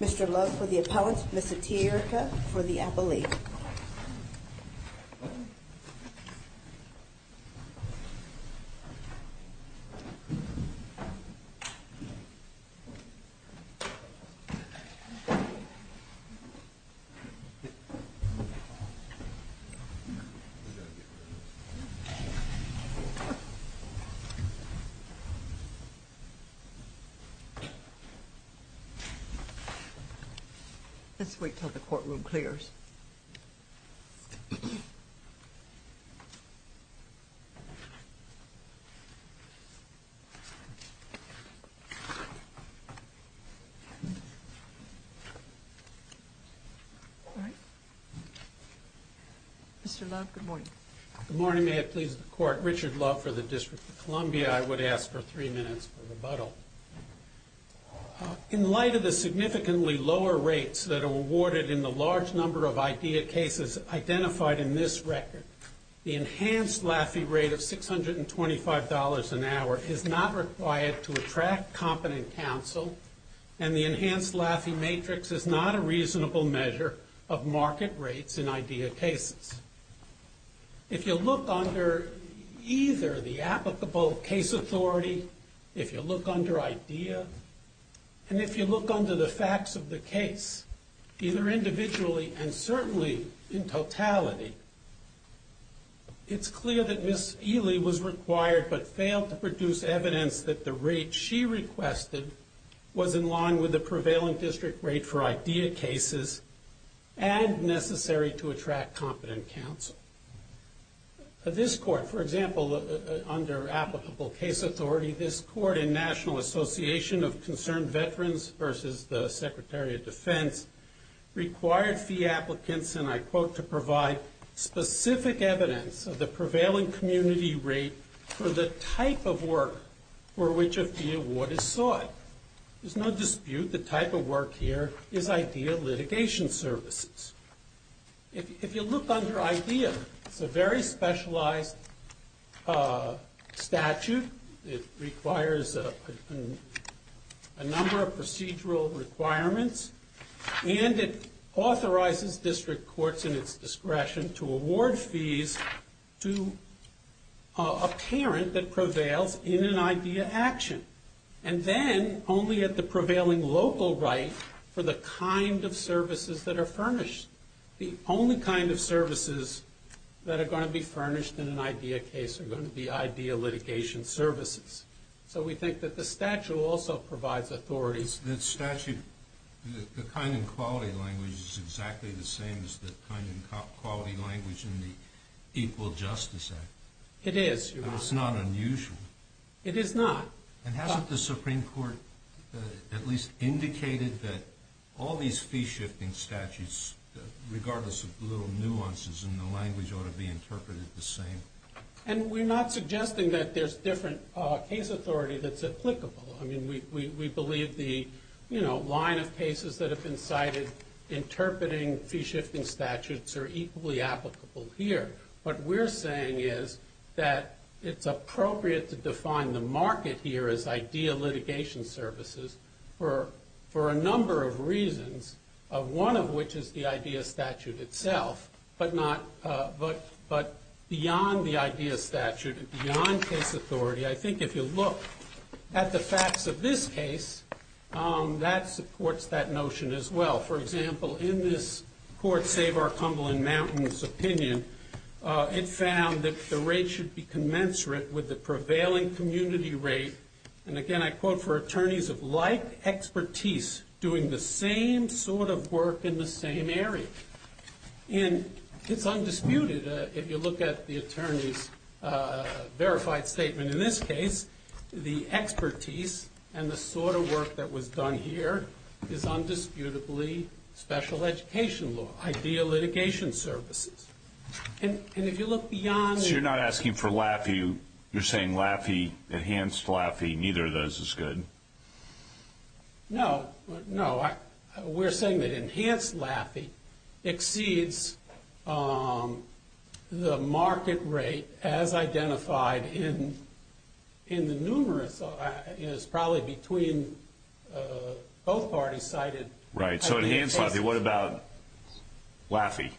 Mr. Love for the appellant, Ms. Atiyah Erica for the appellate. Let's wait until the courtroom clears. Mr. Love, good morning. Good morning. Good morning. May it please the court. Richard Love for the District of Columbia. I would ask for three minutes for rebuttal. In light of the significantly lower rates that are awarded in the large number of IDEA cases identified in this record, the enhanced LAFIE rate of $625 an hour is not required to attract competent counsel, and the enhanced LAFIE matrix is not a reasonable measure of If you look under either the applicable case authority, if you look under IDEA, and if you look under the facts of the case, either individually and certainly in totality, it's clear that Ms. Eley was required but failed to produce evidence that the rate she requested was in line with the prevailing district rate for IDEA cases and necessary to attract competent counsel. For this court, for example, under applicable case authority, this court and National Association of Concerned Veterans versus the Secretary of Defense required fee applicants and I quote to provide specific evidence of the prevailing community rate for the type of work for which a fee award is sought. There's no dispute the type of work here is IDEA litigation services. If you look under IDEA, it's a very specialized statute. It requires a number of procedural requirements, and it authorizes district courts in its discretion to award fees to a parent that prevails in an IDEA action, and then only at the prevailing local right for the kind of services that are furnished. The only kind of services that are going to be furnished in an IDEA case are going to be IDEA litigation services. So we think that the statute also provides authorities. That statute, the kind and quality language is exactly the same as the kind and quality language in the Equal Justice Act. It is, Your Honor. That's not unusual. It is not. And hasn't the Supreme Court at least indicated that all these fee-shifting statutes, regardless of little nuances in the language, ought to be interpreted the same? And we're not suggesting that there's different case authority that's applicable. I mean, we believe the, you know, line of cases that have been cited interpreting fee-shifting statutes are equally applicable here. What we're saying is that it's appropriate to define the market here as IDEA litigation services for a number of reasons, one of which is the IDEA statute itself. But beyond the IDEA statute, beyond case authority, I think if you look at the facts of this case, that supports that notion as well. For example, in this Court Saver-Cumberland-Mountain's opinion, it found that the rate should be commensurate with the prevailing community rate, and again, I quote, for attorneys of like expertise doing the same sort of work in the same area. And it's undisputed, if you look at the attorney's verified statement in this case, the expertise and the sort of work that was done here is undisputably special education law, IDEA litigation services. And if you look beyond... So you're not asking for LAFI, you're saying LAFI, enhanced LAFI, neither of those is good? No, no, we're saying that enhanced LAFI exceeds the market rate as identified in the numerous, it's probably between both parties cited. Right, so enhanced LAFI, what about LAFI?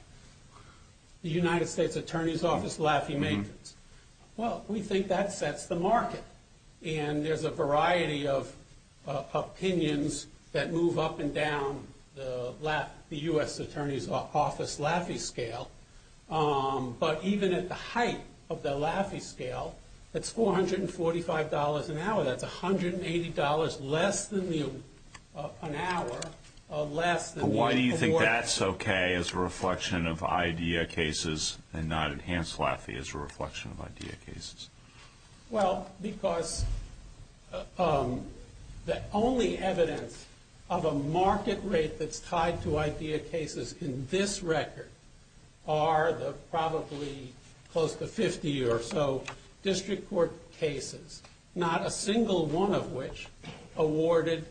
The United States Attorney's Office LAFI maintenance. Well, we think that sets the market. And there's a variety of opinions that move up and down the U.S. Attorney's Office LAFI scale. But even at the height of the LAFI scale, that's $445 an hour. That's $180 less than the, an hour, less than the award. But why do you think that's okay as a reflection of IDEA cases and not enhanced LAFI as a reflection of IDEA cases? Well, because the only evidence of a market rate that's tied to IDEA cases in this record are the probably close to 50 or so district court cases. Not a single one of which awarded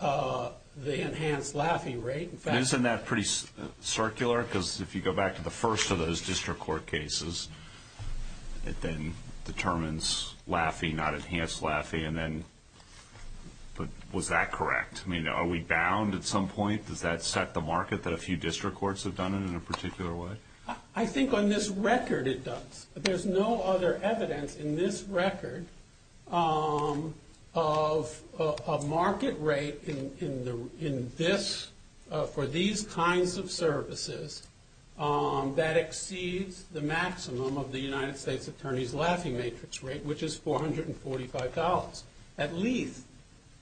the enhanced LAFI rate. Isn't that pretty circular? Because if you go back to the first of those district court cases, it then determines LAFI, not enhanced LAFI. And then, but was that correct? I mean, are we bound at some point? Does that set the market that a few district courts have done it in a particular way? I think on this record it does. There's no other evidence in this record of a market rate in this, for these kinds of services that exceeds the maximum of the United States Attorney's LAFI matrix rate, which is $445. At least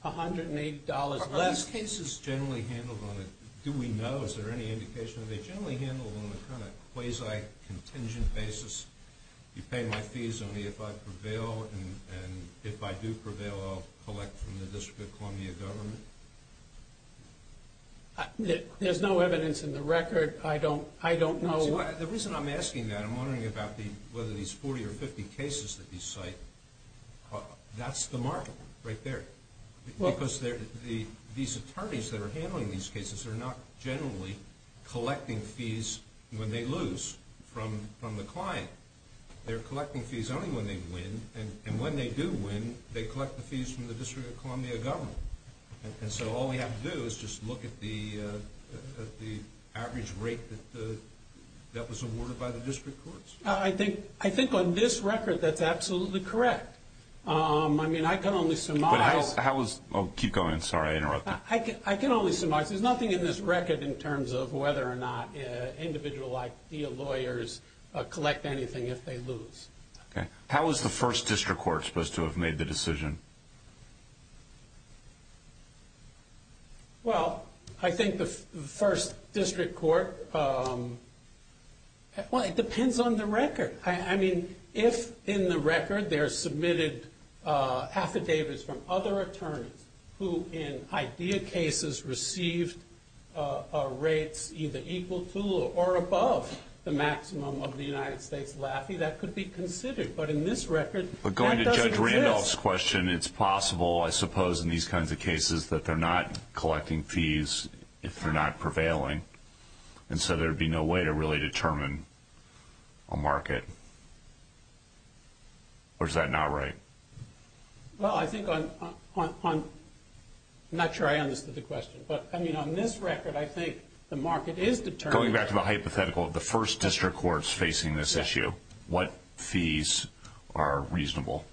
$180 less. Are these cases generally handled on a, do we know, is there any indication that they're generally handled on a kind of quasi-contingent basis? You pay my fees only if I prevail, and if I do prevail, I'll collect from the District of Columbia government? There's no evidence in the record. I don't know. The reason I'm asking that, I'm wondering about whether these 40 or 50 cases that you cite, that's the market right there. Because these attorneys that are handling these cases are not generally collecting fees when they lose from the client. They're collecting fees only when they win, and when they do win, they collect the fees from the District of Columbia government. And so all we have to do is just look at the average rate that was awarded by the district courts? I think on this record that's absolutely correct. I mean, I can only surmise- But how is, keep going, sorry, I interrupted. I can only surmise, there's nothing in this record in terms of whether or not individual lawyers collect anything if they lose. Okay, how is the first district court supposed to have made the decision? Well, I think the first district court, well, it depends on the record. I mean, if in the record there's submitted affidavits from other attorneys who in idea cases received rates either equal to or above the maximum of the United States LAFI, that could be considered. But in this record, that doesn't exist. But going to Judge Randolph's question, it's possible, I suppose, in these kinds of cases that they're not collecting fees if they're not prevailing. And so there'd be no way to really determine a market, or is that not right? Well, I think on, I'm not sure I understood the question, but I mean, on this record, I think the market is determined- Going back to the hypothetical, the first district court's facing this issue. What fees are reasonable?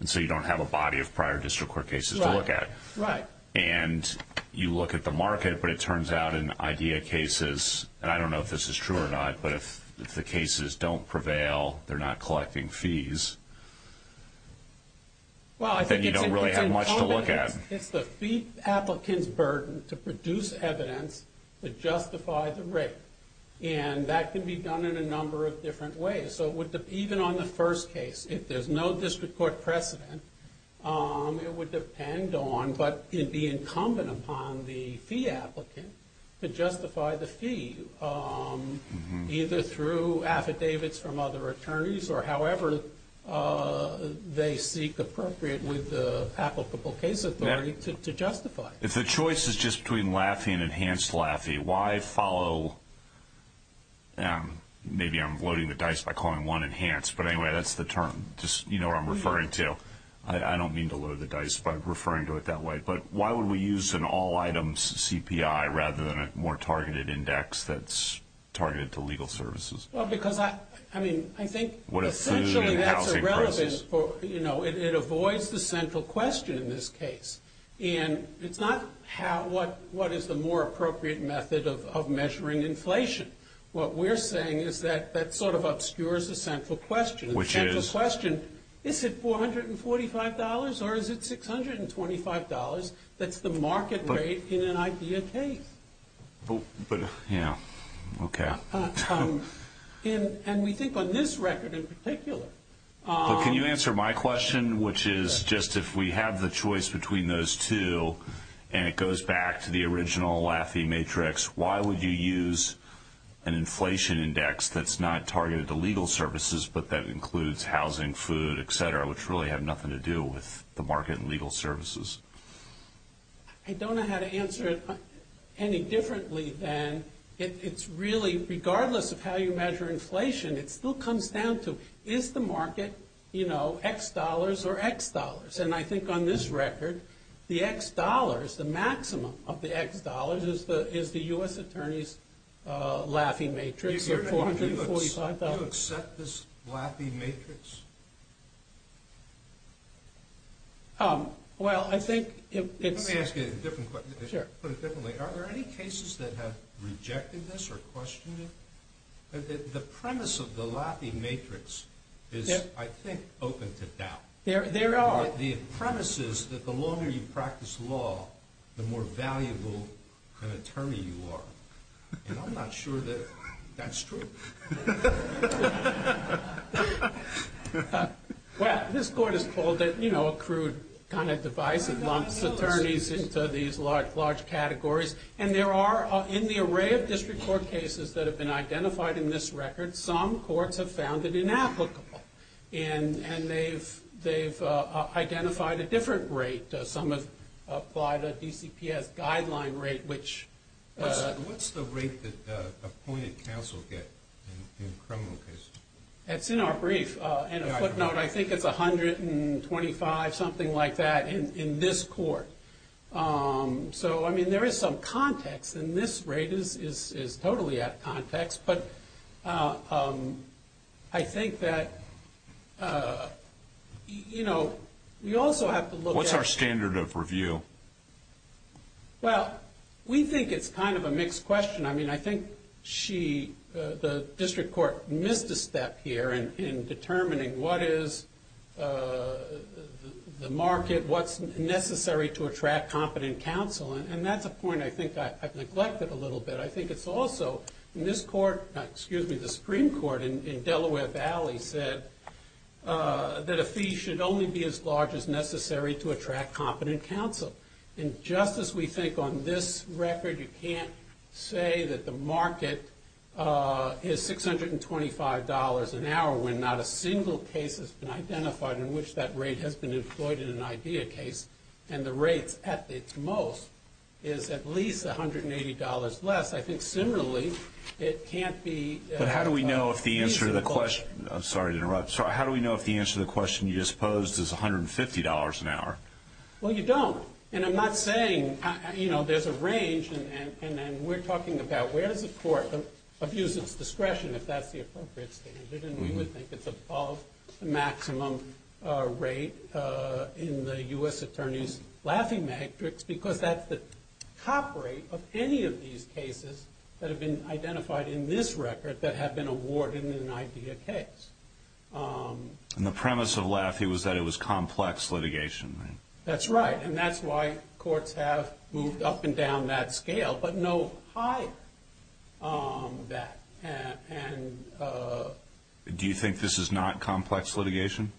And so you don't have a body of prior district court cases to look at. Right. And you look at the market, but it turns out in idea cases, and I don't know if this is true or not, but if the cases don't prevail, they're not collecting fees. Well, I think it's- Then you don't really have much to look at. It's the fee applicant's burden to produce evidence to justify the rate. And that can be done in a number of different ways. So even on the first case, if there's no district court precedent, it would depend on, but it'd be incumbent upon the fee applicant to justify the fee. Either through affidavits from other attorneys, or however they seek appropriate with the applicable case authority to justify. If the choice is just between LAFI and Enhanced LAFI, why follow, maybe I'm loading the dice by calling one Enhanced, but anyway, that's the term. Just, I'm referring to, I don't mean to load the dice, but I'm referring to it that way. But why would we use an all items CPI, rather than a more targeted index that's targeted to legal services? Well, because, I mean, I think essentially that's irrelevant for, it avoids the central question in this case. And it's not what is the more appropriate method of measuring inflation. What we're saying is that that sort of obscures the central question. Which is? Is it $445, or is it $625? That's the market rate in an idea case. But, yeah, okay. And we think on this record in particular. But can you answer my question, which is just if we have the choice between those two, and it goes back to the original LAFI matrix, why would you use an inflation index that's not targeted to legal services, but that includes housing, food, etc., which really have nothing to do with the market and legal services? I don't know how to answer it any differently than, it's really, regardless of how you measure inflation, it still comes down to, is the market, you know, X dollars or X dollars? And I think on this record, the X dollars, the maximum of the X dollars is the US Attorney's LAFI matrix of $445. Do you accept this LAFI matrix? Well, I think it's- Let me ask you a different question. Sure. Are there any cases that have rejected this or questioned it? The premise of the LAFI matrix is, I think, open to doubt. There are. The premise is that the longer you practice law, the more valuable an attorney you are. And I'm not sure that that's true. Well, this court has called it, you know, a crude kind of device. It lumps attorneys into these large, large categories. And there are, in the array of district court cases that have been identified in this record, some courts have found it inapplicable. And they've identified a different rate. Some have applied a DCPS guideline rate, which- What's the rate that appointed counsel get in criminal cases? That's in our brief. In a footnote, I think it's 125, something like that, in this court. So, I mean, there is some context, and this rate is totally at context. But I think that, you know, we also have to look at- What's our standard of review? Well, we think it's kind of a mixed question. I mean, I think she, the district court, missed a step here in determining what is the market, what's necessary to attract competent counsel. And that's a point I think I've neglected a little bit. I think it's also, in this court, excuse me, the Supreme Court in Delaware Valley said that a fee should only be as large as necessary to attract competent counsel. And just as we think on this record, you can't say that the market is $625 an hour when not a single case has been identified in which that rate has been employed in an IDEA case. And the rate at its most is at least $180 less. I think, similarly, it can't be- But how do we know if the answer to the question- I'm sorry to interrupt. Sir, how do we know if the answer to the question you just posed is $150 an hour? Well, you don't. And I'm not saying, you know, there's a range. And we're talking about where does the court abuse its discretion, if that's the appropriate standard. And we would think it's above the maximum rate in the US attorney's laughing matrix, because that's the top rate of any of these cases that have been identified in this record that have been awarded in an IDEA case. And the premise of laughing was that it was complex litigation, right? That's right. And that's why courts have moved up and down that scale, but no higher than that. And- Do you think this is not complex litigation?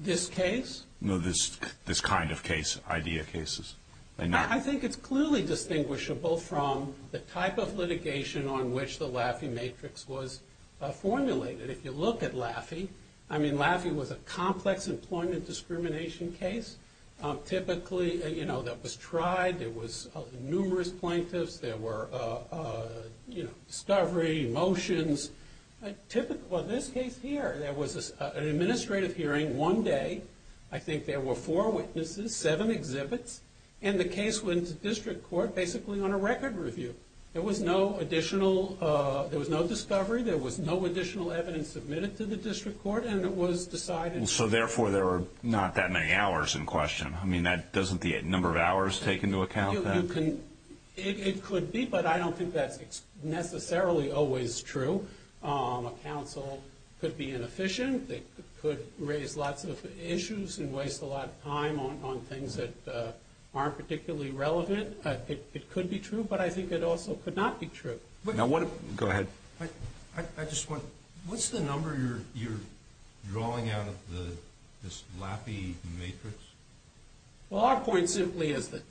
This case? No, this kind of case, IDEA cases. I think it's clearly distinguishable from the type of litigation on which the laughing matrix was formulated. If you look at laughing, I mean, laughing was a complex employment discrimination case, typically, you know, that was tried. There was numerous plaintiffs. There were, you know, discovery, motions. Typically, in this case here, there was an administrative hearing one day. I think there were four witnesses, seven exhibits. And the case went to district court, basically, on a record review. There was no additional, there was no discovery. There was no additional evidence submitted to the district court. And it was decided- So, therefore, there were not that many hours in question. I mean, doesn't the number of hours take into account that? It could be, but I don't think that's necessarily always true. A counsel could be inefficient. They could raise lots of issues and waste a lot of time on things that aren't particularly relevant. It could be true, but I think it also could not be true. Now, what if- Go ahead. I just want, what's the number you're drawing out of this laughing matrix? Well, our point simply is that-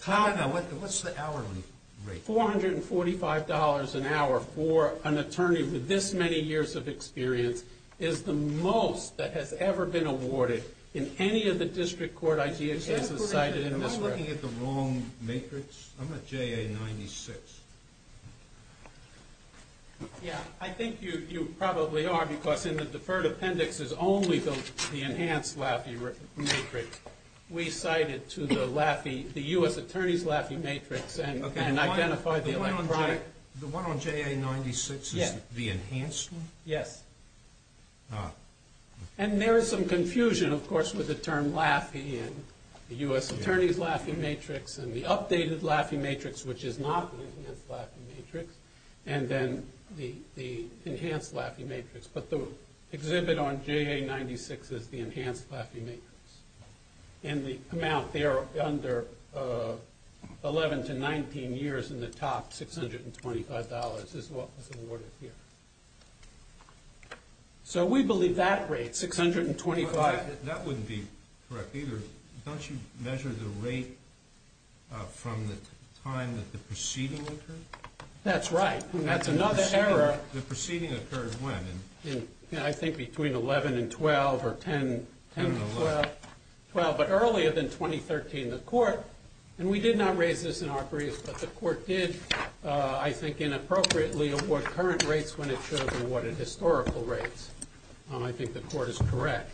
What's the hourly rate? $445 an hour for an attorney with this many years of experience is the most that has ever been awarded in any of the district court IGHC's that's cited in this record. Am I looking at the wrong matrix? I'm at JA 96. Yeah, I think you probably are, because in the deferred appendix is only the enhanced Laffey matrix. We cite it to the Laffey, the U.S. Attorney's Laffey matrix and identify the electronic- The one on JA 96 is the enhanced one? Yes. And there is some confusion, of course, with the term Laffey and the U.S. Attorney's Laffey matrix and the updated Laffey matrix, which is not the enhanced Laffey matrix, and then the enhanced Laffey matrix, but the exhibit on JA 96 is the enhanced Laffey matrix, and the amount there under 11 to 19 years in the top, $625 is what was awarded here. So we believe that rate, 625- That wouldn't be correct either. Don't you measure the rate from the time that the proceeding occurred? That's right. That's another error. The proceeding occurred when? I think between 11 and 12 or 10 to 12. But earlier than 2013, the court, and we did not raise this in our brief, but the court did, I think, inappropriately award current rates when it should have been awarded historical rates. I think the court is correct.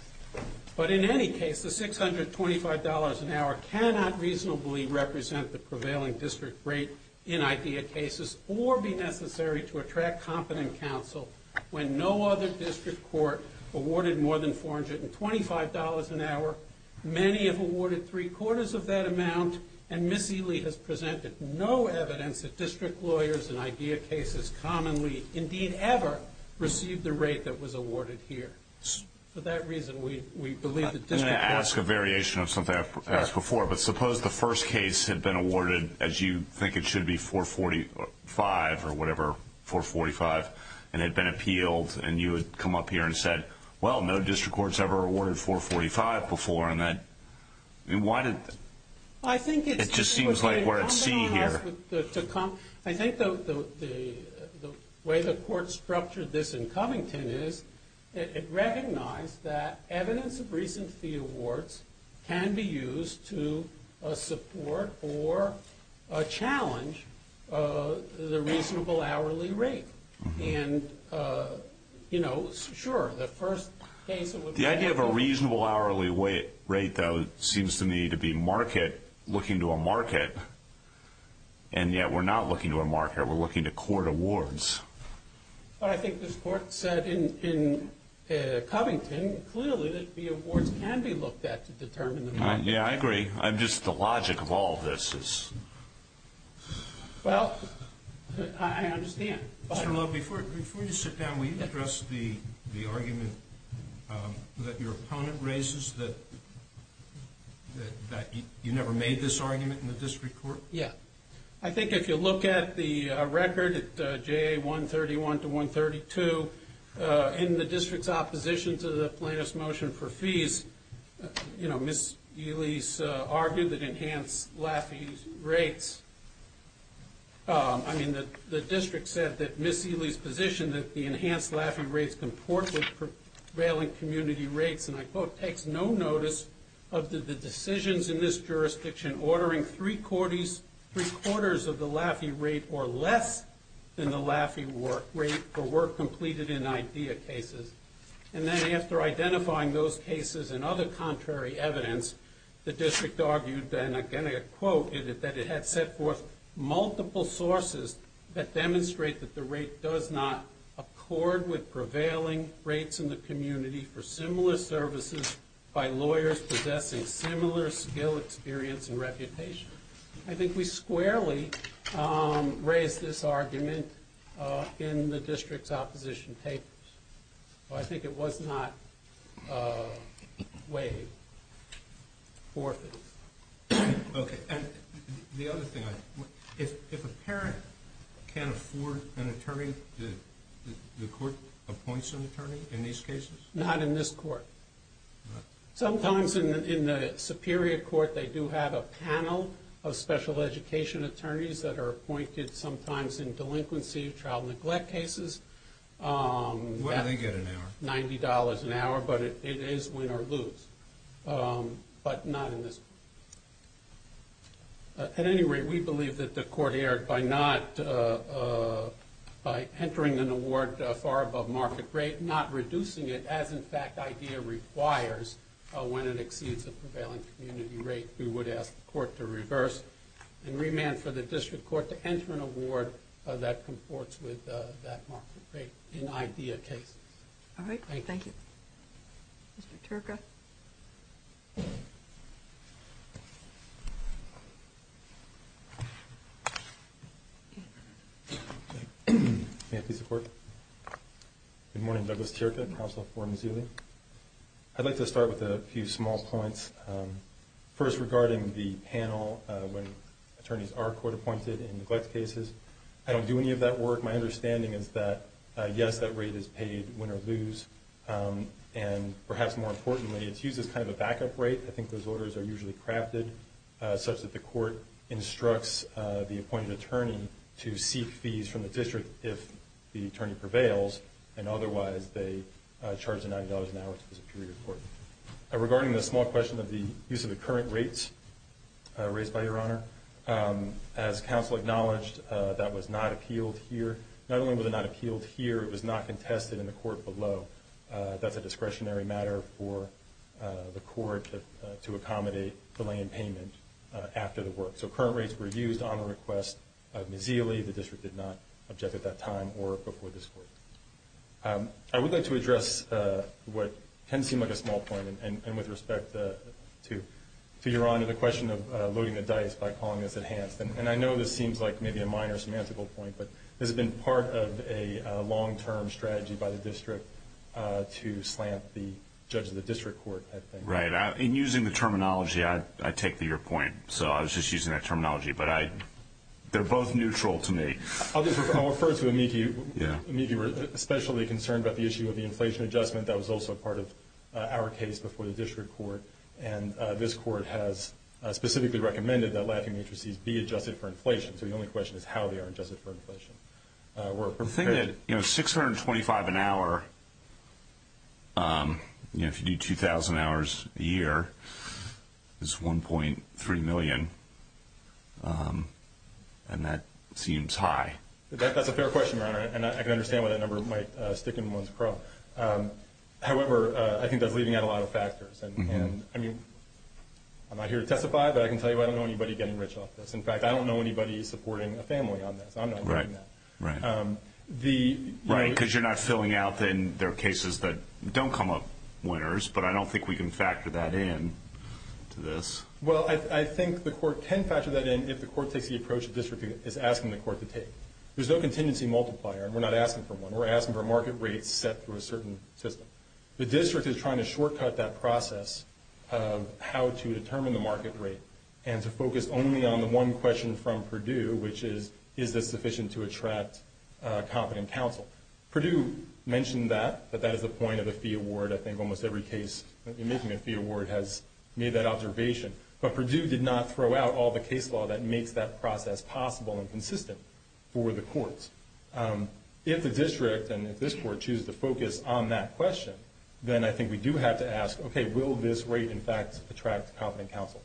But in any case, the $625 an hour cannot reasonably represent the prevailing district rate in IDEA cases or be necessary to attract competent counsel when no other district court awarded more than $425 an hour. Many have awarded three-quarters of that amount, and Ms. Ely has presented no evidence that district lawyers in IDEA cases commonly, indeed ever, received the rate that was awarded here. For that reason, we believe that district- I'm going to ask a variation of something I've asked before, but suppose the first case had been awarded, as you think it should be, 445 or whatever, 445, and it had been appealed, and you had come up here and said, well, no district court's ever awarded 445 before, and that, I mean, why did- I think it's- It just seems like we're at C here. I think the way the court structured this in Covington is it recognized that evidence of recent fee awards can be used to support or challenge the reasonable hourly rate. And, you know, sure, the first case- The idea of a reasonable hourly rate, though, seems to me to be market, looking to a market, and yet we're not looking to a market, we're looking to court awards. But I think this court said in Covington, clearly, that the awards can be looked at to determine the market. Yeah, I agree. I'm just, the logic of all of this is- Well, I understand. Mr. Love, before you sit down, will you address the argument that your opponent raises, that you never made this argument in the district court? Yeah. I think if you look at the record at JA 131 to 132, you know, Ms. Ely's argued that enhanced LAFIE rates, I mean, the district said that Ms. Ely's position that the enhanced LAFIE rates comport with prevailing community rates, and I quote, takes no notice of the decisions in this jurisdiction ordering three-quarters of the LAFIE rate or less than the LAFIE rate for work completed in IDEA cases. And then after identifying those cases and other contrary evidence, the district argued then, again, I quote, that it had set forth multiple sources that demonstrate that the rate does not accord with prevailing rates in the community for similar services by lawyers possessing similar skill, experience, and reputation. I think we squarely raised this argument in the district's opposition papers. I think it was not weighed for this. Okay, and the other thing, if a parent can't afford an attorney, the court appoints an attorney in these cases? Not in this court. Sometimes in the superior court, they do have a panel of special education attorneys that are appointed sometimes in delinquency or child neglect cases. What do they get an hour? $90 an hour, but it is win or lose, but not in this. At any rate, we believe that the court erred by entering an award far above market rate, not reducing it as, in fact, IDEA requires when it exceeds a prevailing community rate. We would ask the court to reverse and remand for an IDEA case. All right, thank you. Mr. Turca. May I please report? Good morning, Douglas Turca, Council for Missouri. I'd like to start with a few small points. First, regarding the panel when attorneys are court appointed in neglect cases. I don't do any of that work. My understanding is that, yes, that rate is paid win or lose, and perhaps more importantly, it's used as kind of a backup rate. I think those orders are usually crafted such that the court instructs the appointed attorney to seek fees from the district if the attorney prevails, and otherwise, they charge $90 an hour to the superior court. Regarding the small question of the use of the current rates raised by your honor, as counsel acknowledged, that was not appealed here. Not only was it not appealed here, it was not contested in the court below. That's a discretionary matter for the court to accommodate delay in payment after the work. So current rates were used on the request of Ms. Zealy. The district did not object at that time or before this court. I would like to address what can seem like a small point, and with respect to your honor, the question of loading the dice by calling this enhanced. And I know this seems like maybe a minor semantical point, but this has been part of a long-term strategy by the district to slant the judge of the district court, I think. Right, and using the terminology, I take to your point. So I was just using that terminology, but they're both neutral to me. I'll just refer to Amiki. Amiki was especially concerned about the issue of the inflation adjustment. That was also a part of our case before the district court. And this court has specifically recommended that latching matrices be adjusted for inflation. So the only question is how they are adjusted for inflation. We're prepared- 625 an hour, if you do 2,000 hours a year is 1.3 million, and that seems high. That's a fair question, your honor, and I can understand why that number might stick in one's pro. However, I think that's leaving out a lot of factors. And I mean, I'm not here to testify, but I can tell you I don't know anybody getting rich off this. In fact, I don't know anybody supporting a family on this. I'm not doing that. Right, because you're not filling out, then there are cases that don't come up winners, but I don't think we can factor that in to this. Well, I think the court can factor that in if the court takes the approach the district is asking the court to take. There's no contingency multiplier, and we're not asking for one. We're asking for market rates set through a certain system. The district is trying to shortcut that process of how to determine the market rate, and to focus only on the one question from Purdue, which is, is this sufficient to attract competent counsel? Purdue mentioned that, that that is the point of the fee award. I think almost every case in making a fee award has made that observation. But Purdue did not throw out all the case law that makes that process possible and consistent for the courts. If the district and if this court choose to focus on that question, then I think we do have to ask, okay, will this rate, in fact, attract competent counsel?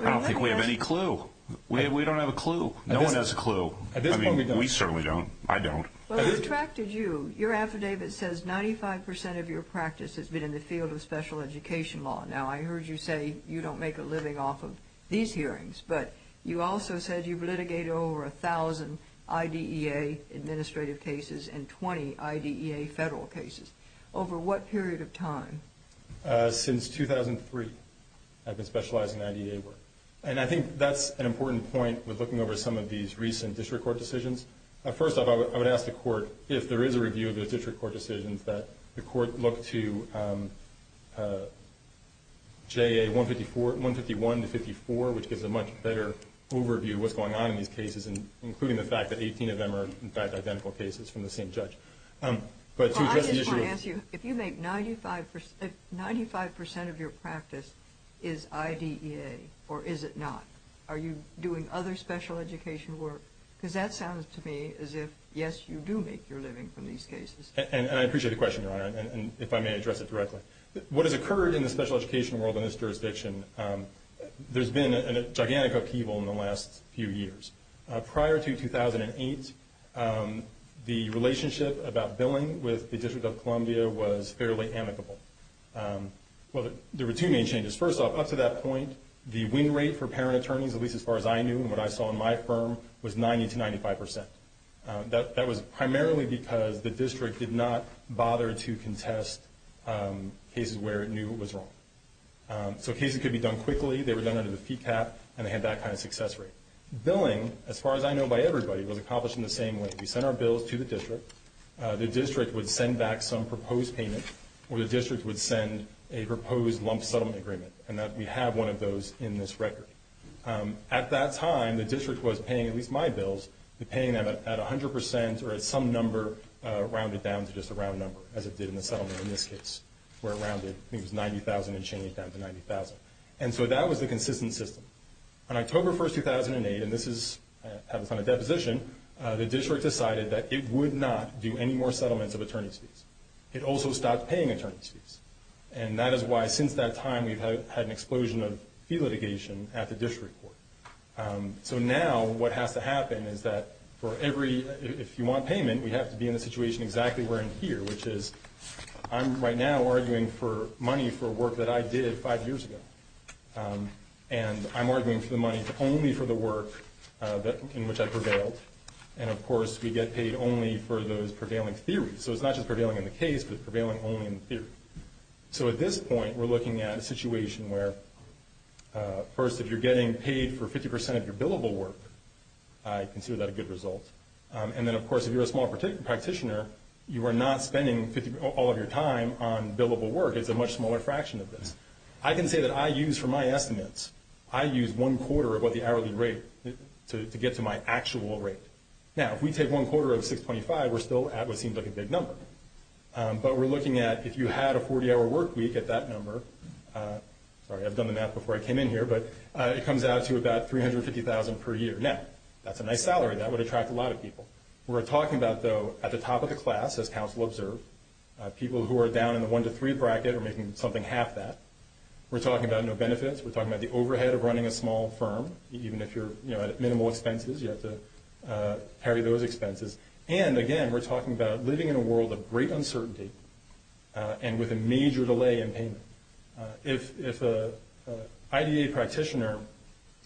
I don't think we have any clue. We don't have a clue. No one has a clue. At this point, we don't. We certainly don't. I don't. Well, it attracted you. Your affidavit says 95% of your practice has been in the field of special education law. Now, I heard you say you don't make a living off of these hearings, but you also said you've litigated over 1,000 IDEA administrative cases and 20 IDEA federal cases. Over what period of time? Since 2003, I've been specializing in IDEA work. And I think that's an important point with looking over some of these recent district court decisions. First off, I would ask the court, if there is a review of those district court decisions, that the court look to JA 151 to 54, which gives a much better overview of what's going on in these cases, including the fact that 18 of them are, in fact, identical cases from the same judge. But to address the issue of- Well, I just want to ask you, if 95% of your practice is IDEA, or is it not? Are you doing other special education work? Because that sounds to me as if, yes, you do make your living from these cases. And I appreciate the question, Your Honor, if I may address it directly. What has occurred in the special education world in this jurisdiction, there's been a gigantic upheaval in the last few years. Prior to 2008, the relationship about billing with the District of Columbia was fairly amicable. Well, there were two main changes. First off, up to that point, the win rate for parent attorneys, at least as far as I knew and what I saw in my firm, was 90% to 95%. That was primarily because the district did not bother to contest cases where it knew it was wrong. So cases could be done quickly. They were done under the fee cap, and they had that kind of success rate. Billing, as far as I know by everybody, was accomplished in the same way. We sent our bills to the district. The district would send back some proposed payment, or the district would send a proposed lump settlement agreement. And we have one of those in this record. At that time, the district was paying at least my bills. The paying at 100%, or at some number, rounded down to just a round number, as it did in the settlement in this case, where it rounded, I think it was 90,000 and changed that to 90,000. And so that was the consistent system. On October 1, 2008, and this is on a deposition, the district decided that it would not do any more settlements of attorney's fees. It also stopped paying attorney's fees. And that is why, since that time, we've had an explosion of fee litigation at the district court. So now what has to happen is that for every, if you want payment, we have to be in a situation exactly where I'm here, which is I'm right now arguing for work that I did five years ago. And I'm arguing for the money only for the work in which I prevailed. And of course, we get paid only for those prevailing theories. So it's not just prevailing in the case, but prevailing only in theory. So at this point, we're looking at a situation where, first, if you're getting paid for 50% of your billable work, I consider that a good result. And then, of course, if you're a small practitioner, you are not spending all of your time on billable work. It's a much smaller fraction of this. I can say that I use, for my estimates, I use one quarter of what the hourly rate to get to my actual rate. Now, if we take one quarter of 625, we're still at what seems like a big number. But we're looking at, if you had a 40-hour work week at that number, sorry, I've done the math before I came in here, but it comes out to about $350,000 per year. Now, that's a nice salary. That would attract a lot of people. We're talking about, though, at the top of the class, as counsel observed, people who are down in the one to three bracket are making something half that. We're talking about no benefits. We're talking about the overhead of running a small firm, even if you're at minimal expenses. You have to carry those expenses. And again, we're talking about living in a world of great uncertainty and with a major delay in payment. If an IDA practitioner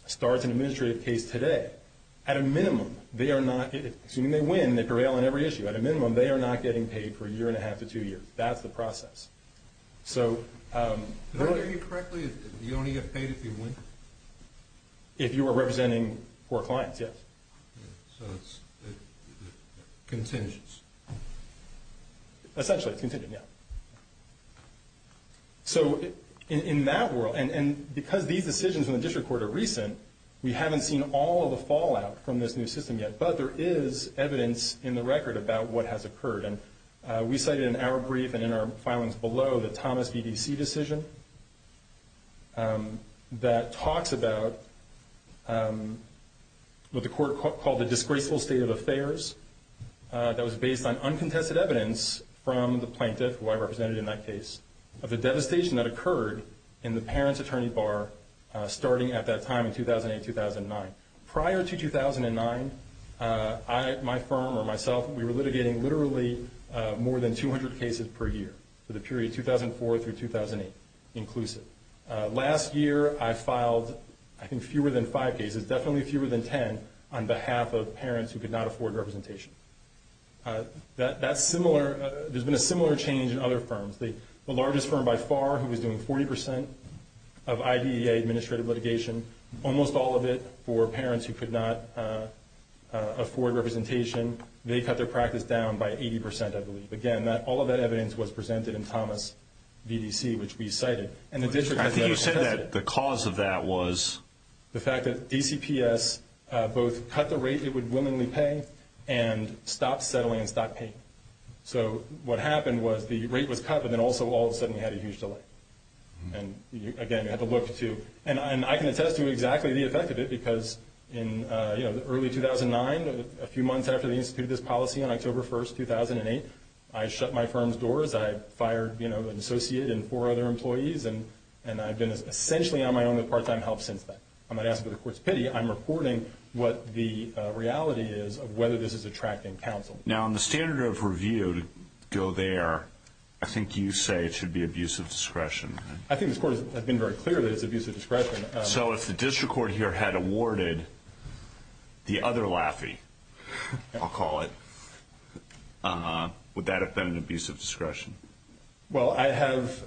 starts an administrative case today, at a minimum, they are not, assuming they win, they prevail on every issue. At a minimum, they are not getting paid for a year and a half to two years. That's the process. So- Did I hear you correctly? You only get paid if you win? If you are representing poor clients, yes. So it's contingence. Essentially, it's contingent, yeah. So in that world, and because these decisions in the district court are recent, we haven't seen all of the fallout from this new system yet. But there is evidence in the record about what has occurred. And we cited in our brief and in our filings below, the Thomas BDC decision that talks about what the court called the disgraceful state of affairs. That was based on uncontested evidence from the plaintiff, who I represented in that case, of the devastation that occurred in the parents attorney bar starting at that time in 2008, 2009. Prior to 2009, my firm or myself, we were litigating literally more than 200 cases per year for the period 2004 through 2008, inclusive. Last year, I filed, I think, fewer than five cases, definitely fewer than ten, on behalf of parents who could not afford representation. That's similar, there's been a similar change in other firms. The largest firm by far, who was doing 40% of IDEA administrative litigation, almost all of it for parents who could not afford representation. They cut their practice down by 80%, I believe. Again, all of that evidence was presented in Thomas BDC, which we cited. And the district- I think you said that the cause of that was- The fact that DCPS both cut the rate it would willingly pay, and stopped settling and stopped paying. So what happened was the rate was cut, but then also all of a sudden you had a huge delay. And again, you have to look to, and I can attest to exactly the effect of it, because in early 2009, a few months after they instituted this policy, on October 1st, 2008, I shut my firm's doors. I fired an associate and four other employees, and I've been essentially on my own with part-time help since then. I'm not asking for the court's pity, I'm reporting what the reality is of whether this is attracting counsel. Now, on the standard of review, to go there, I think you say it should be abuse of discretion, right? I think the court has been very clear that it's abuse of discretion. So if the district court here had awarded the other Laffey, I'll call it, would that have been an abuse of discretion? Well, I have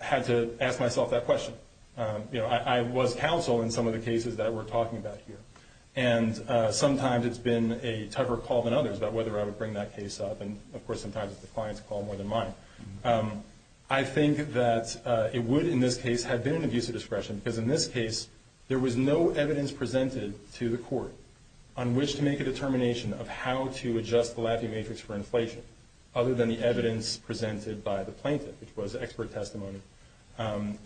had to ask myself that question. I was counsel in some of the cases that we're talking about here. And sometimes it's been a tougher call than others about whether I would bring that case up, and of course, sometimes it's the client's call more than mine. I think that it would, in this case, have been an abuse of discretion, because in this case, there was no evidence presented to the court on which to make a determination of how to adjust the Laffey matrix for inflation, other than the evidence presented by the plaintiff, which was expert testimony. And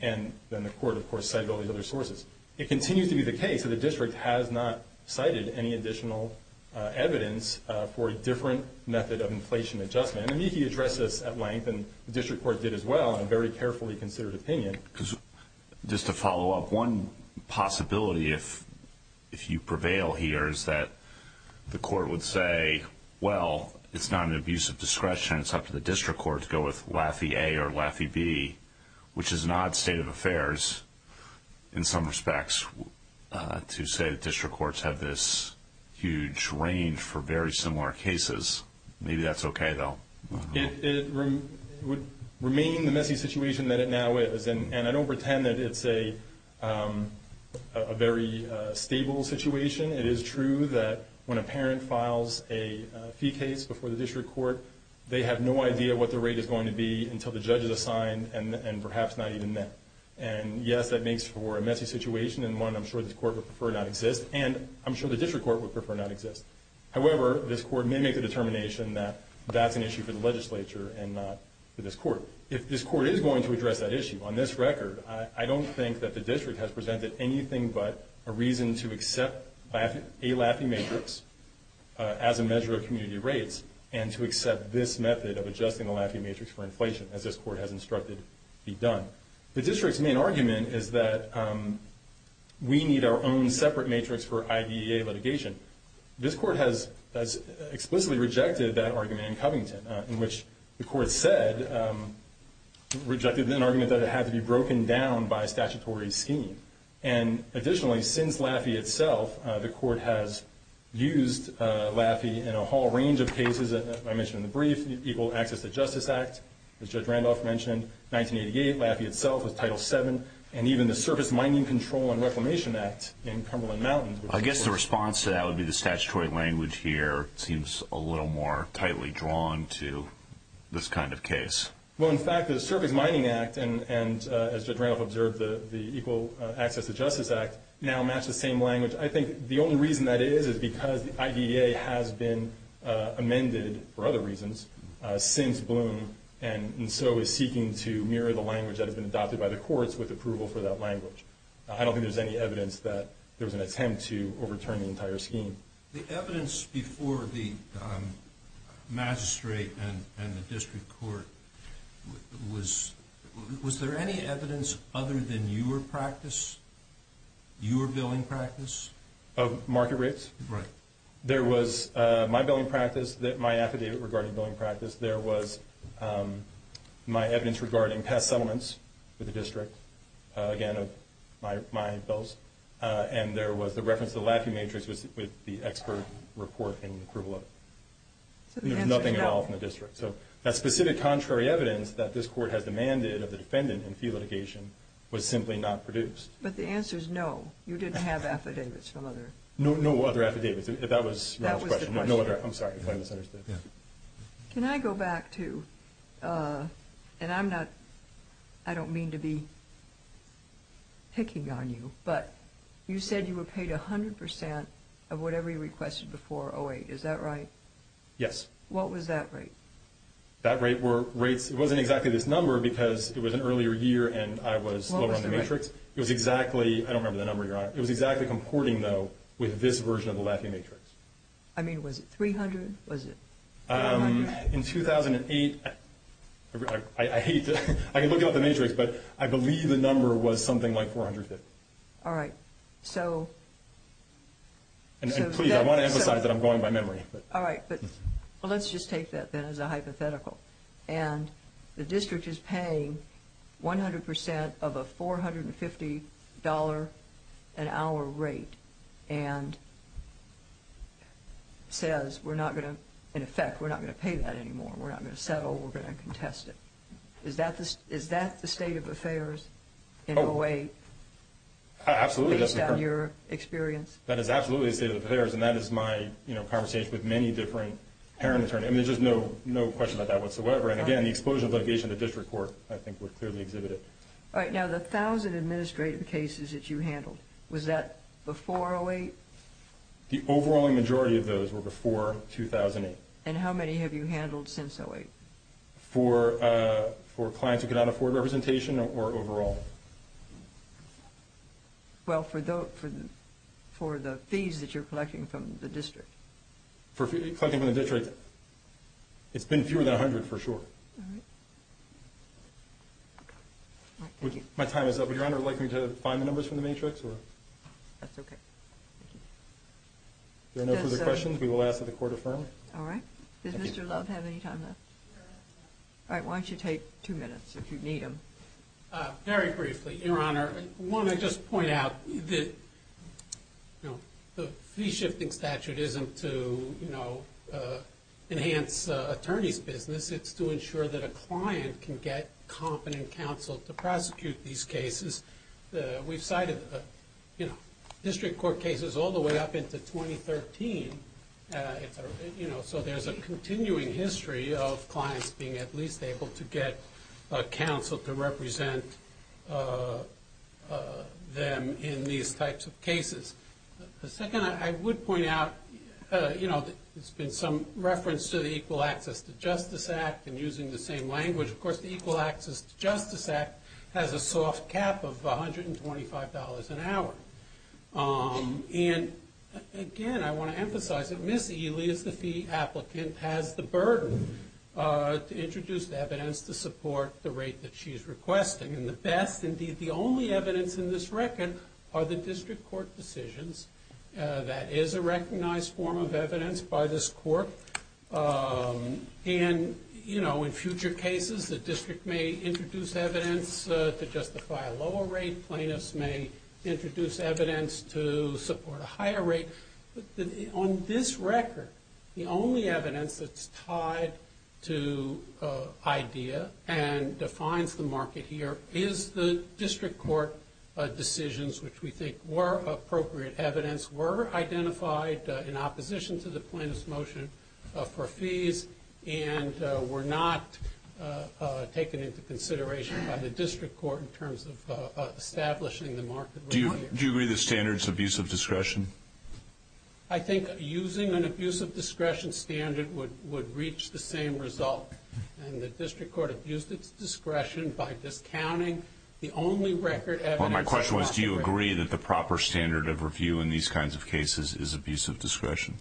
then the court, of course, cited all the other sources. It continues to be the case that the district has not cited any additional evidence for a different method of inflation adjustment. And I think he addressed this at length, and the district court did as well, in a very carefully considered opinion. Just to follow up, one possibility, if you prevail here, is that the court would say, well, it's not an abuse of discretion. It's up to the district court to go with Laffey A or Laffey B, which is an odd state of affairs, in some respects, to say that district courts have this huge range for very similar cases. Maybe that's okay, though. It would remain the messy situation that it now is, and I don't pretend that it's a very stable situation. It is true that when a parent files a fee case before the district court, they have no idea what the rate is going to be until the judge is assigned, and perhaps not even met. And yes, that makes for a messy situation, and one I'm sure this court would prefer not exist, and I'm sure the district court would prefer not exist. However, this court may make the determination that that's an issue for the legislature and not for this court. If this court is going to address that issue, on this record, I don't think that the district has presented anything but a reason to accept a Laffey matrix as a measure of community rates, and to accept this method of adjusting the Laffey matrix for inflation, as this court has instructed be done. The district's main argument is that we need our own separate matrix for IDEA litigation. This court has explicitly rejected that argument in Covington, in which the court said, rejected an argument that it had to be broken down by a statutory scheme. And additionally, since Laffey itself, the court has used Laffey in a whole Access to Justice Act, as Judge Randolph mentioned, 1988, Laffey itself was Title VII, and even the Surface Mining Control and Reclamation Act in Cumberland Mountains. I guess the response to that would be the statutory language here seems a little more tightly drawn to this kind of case. Well, in fact, the Surface Mining Act, and as Judge Randolph observed, the Equal Access to Justice Act, now match the same language. I think the only reason that is, is because the IDEA has been amended, for other reasons, since Bloom, and so is seeking to mirror the language that has been adopted by the courts with approval for that language. I don't think there's any evidence that there was an attempt to overturn the entire scheme. The evidence before the magistrate and the district court, was there any evidence other than your practice, your billing practice? Of market rates? Right. There was my billing practice, my affidavit regarding billing practice. There was my evidence regarding past settlements with the district, again, of my bills. And there was the reference to the Laffey matrix with the expert report and approval of it. There was nothing at all from the district. So that specific contrary evidence that this court has demanded of the defendant in fee litigation was simply not produced. But the answer is no. You didn't have affidavits from other... No other affidavits. If that was your question, I'm sorry if I misunderstood. Can I go back to, and I'm not, I don't mean to be picking on you, but you said you were paid 100% of whatever you requested before 08. Is that right? Yes. What was that rate? That rate were rates, it wasn't exactly this number, because it was an earlier year and I was lower on the matrix. It was exactly, I don't remember the number, Your Honor. It was exactly comporting, though, with this version of the Laffey matrix. I mean, was it 300? Was it 400? In 2008, I hate to, I can look up the matrix, but I believe the number was something like 450. All right. So... And please, I want to emphasize that I'm going by memory. All right. Well, let's just take that then as a hypothetical. And the district is paying 100% of a $450 an hour rate and says, we're not going to, in effect, we're not going to pay that anymore. We're not going to settle. We're going to contest it. Is that the state of affairs in 08? Absolutely. Based on your experience? That is absolutely the state of affairs, and that is my, you know, conversation with many different parent attorneys. I mean, there's just no question about that whatsoever. And again, the explosion of litigation in the district court, I think, would clearly exhibit it. All right. Now, the 1,000 administrative cases that you handled, was that before 08? The overall majority of those were before 2008. And how many have you handled since 08? For clients who could not afford representation or overall? Well, for the fees that you're collecting from the district. For collecting from the district, it's been fewer than 100 for sure. All right. My time is up. Would Your Honor like me to find the numbers from the matrix, or? That's OK. If there are no further questions, we will ask that the court affirm. All right. Does Mr. Love have any time left? All right, why don't you take two minutes, if you need him. Very briefly, Your Honor, I want to just point out that the fee shifting statute isn't to enhance attorney's business. It's to ensure that a client can get competent counsel to prosecute these cases. We've cited district court cases all the way up into 2013. So there's a continuing history of clients being at least able to get counsel to represent them in these types of cases. The second I would point out, there's been some reference to the Equal Access to Justice Act, and using the same language. Of course, the Equal Access to Justice Act has a soft cap of $125 an hour. And again, I want to emphasize that Ms. Ely is the fee applicant, and has the burden to introduce the evidence to support the rate that she's requesting. And the best, indeed, the only evidence in this record are the district court decisions. That is a recognized form of evidence by this court. And in future cases, the district may introduce evidence to justify a lower rate. Plaintiffs may introduce evidence to support a higher rate. On this record, the only evidence that's tied to idea and defines the market here is the district court decisions, which we think were appropriate evidence, were identified in opposition to the plaintiff's motion for fees, and were not taken into consideration by the district court in terms of establishing the market. Do you agree the standard's abusive discretion? I think using an abusive discretion standard would reach the same result. And the district court abused its discretion by discounting the only record evidence that's not the rate. Well, my question was, do you agree that the proper standard of review in these kinds of cases is abusive discretion?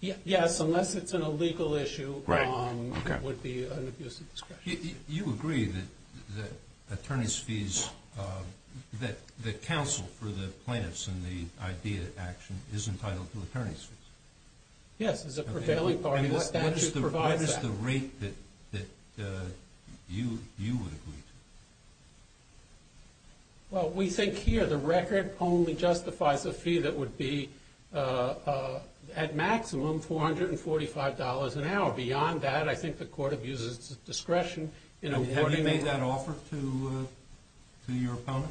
Yes, unless it's an illegal issue, it would be an abusive discretion. You agree that the counsel for the plaintiffs in the idea action is entitled to attorney's fees? Yes, as a prevailing party, the statute provides that. And what is the rate that you would agree to? Well, we think here the record only justifies a fee that would be, at maximum, $445 an hour. Beyond that, I think the court abuses its discretion in awarding it. Have you made that offer to your opponent?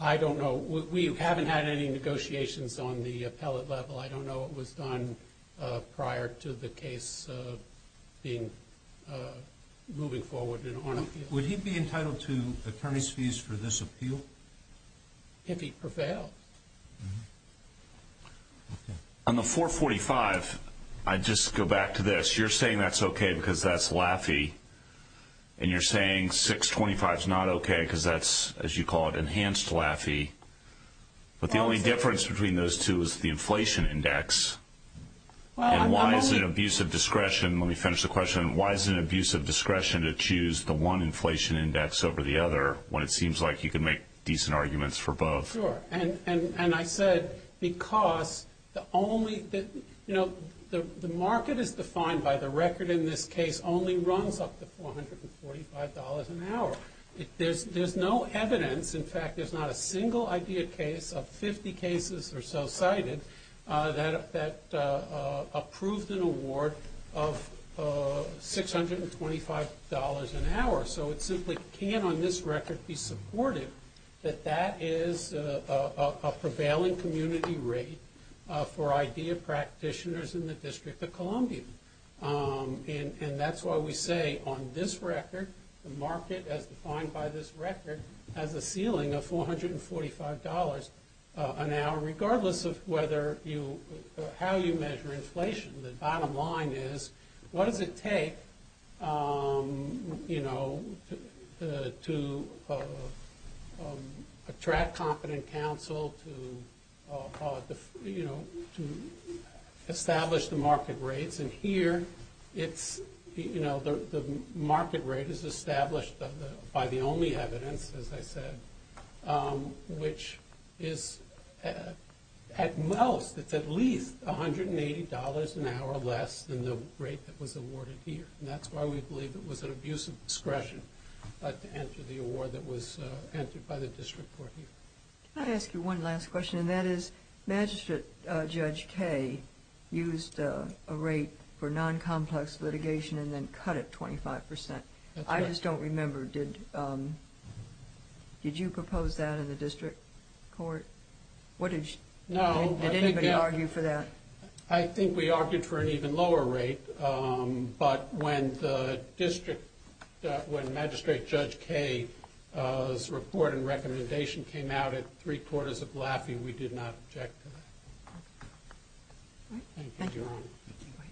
I don't know. We haven't had any negotiations on the appellate level. I don't know what was done prior to the case moving forward and on appeal. Would he be entitled to attorney's fees for this appeal? If he prevailed. On the $445, I'd just go back to this. You're saying that's OK because that's LAFI. And you're saying $625 is not OK because that's, as you call it, enhanced LAFI. But the only difference between those two is the inflation index. And why is it an abusive discretion? Let me finish the question. Why is it an abusive discretion to choose the one inflation index over the other when it seems like you can make decent arguments for both? And I said because the market is defined by the record in this case only runs up to $445 an hour. There's no evidence. In fact, there's not a single idea case of 50 cases or so cited that approved an award of $625 an hour. So it simply can't on this record be supported that that is a prevailing community rate for idea practitioners in the District of Columbia. And that's why we say on this record, the market as defined by this record has a ceiling of $445 an hour regardless of how you measure inflation. The bottom line is, what does it take to attract competent counsel to establish the market rates? And here, the market rate is established by the only evidence, as I said, which is at most, it's at least $180 an hour less than the rate that was awarded here. And that's why we believe it was an abusive discretion to enter the award that was entered by the district court here. Can I ask you one last question? And that is, Magistrate Judge Kaye used a rate for non-complex litigation and then cut it 25%. I just don't remember. Did you propose that in the district court? What did you? No. Did anybody argue for that? I think we argued for an even lower rate. But when the district, when Magistrate Judge Kaye's report and recommendation came out at three quarters of Laffey, we did not object to that. All right. Thank you. Thank you, Your Honor.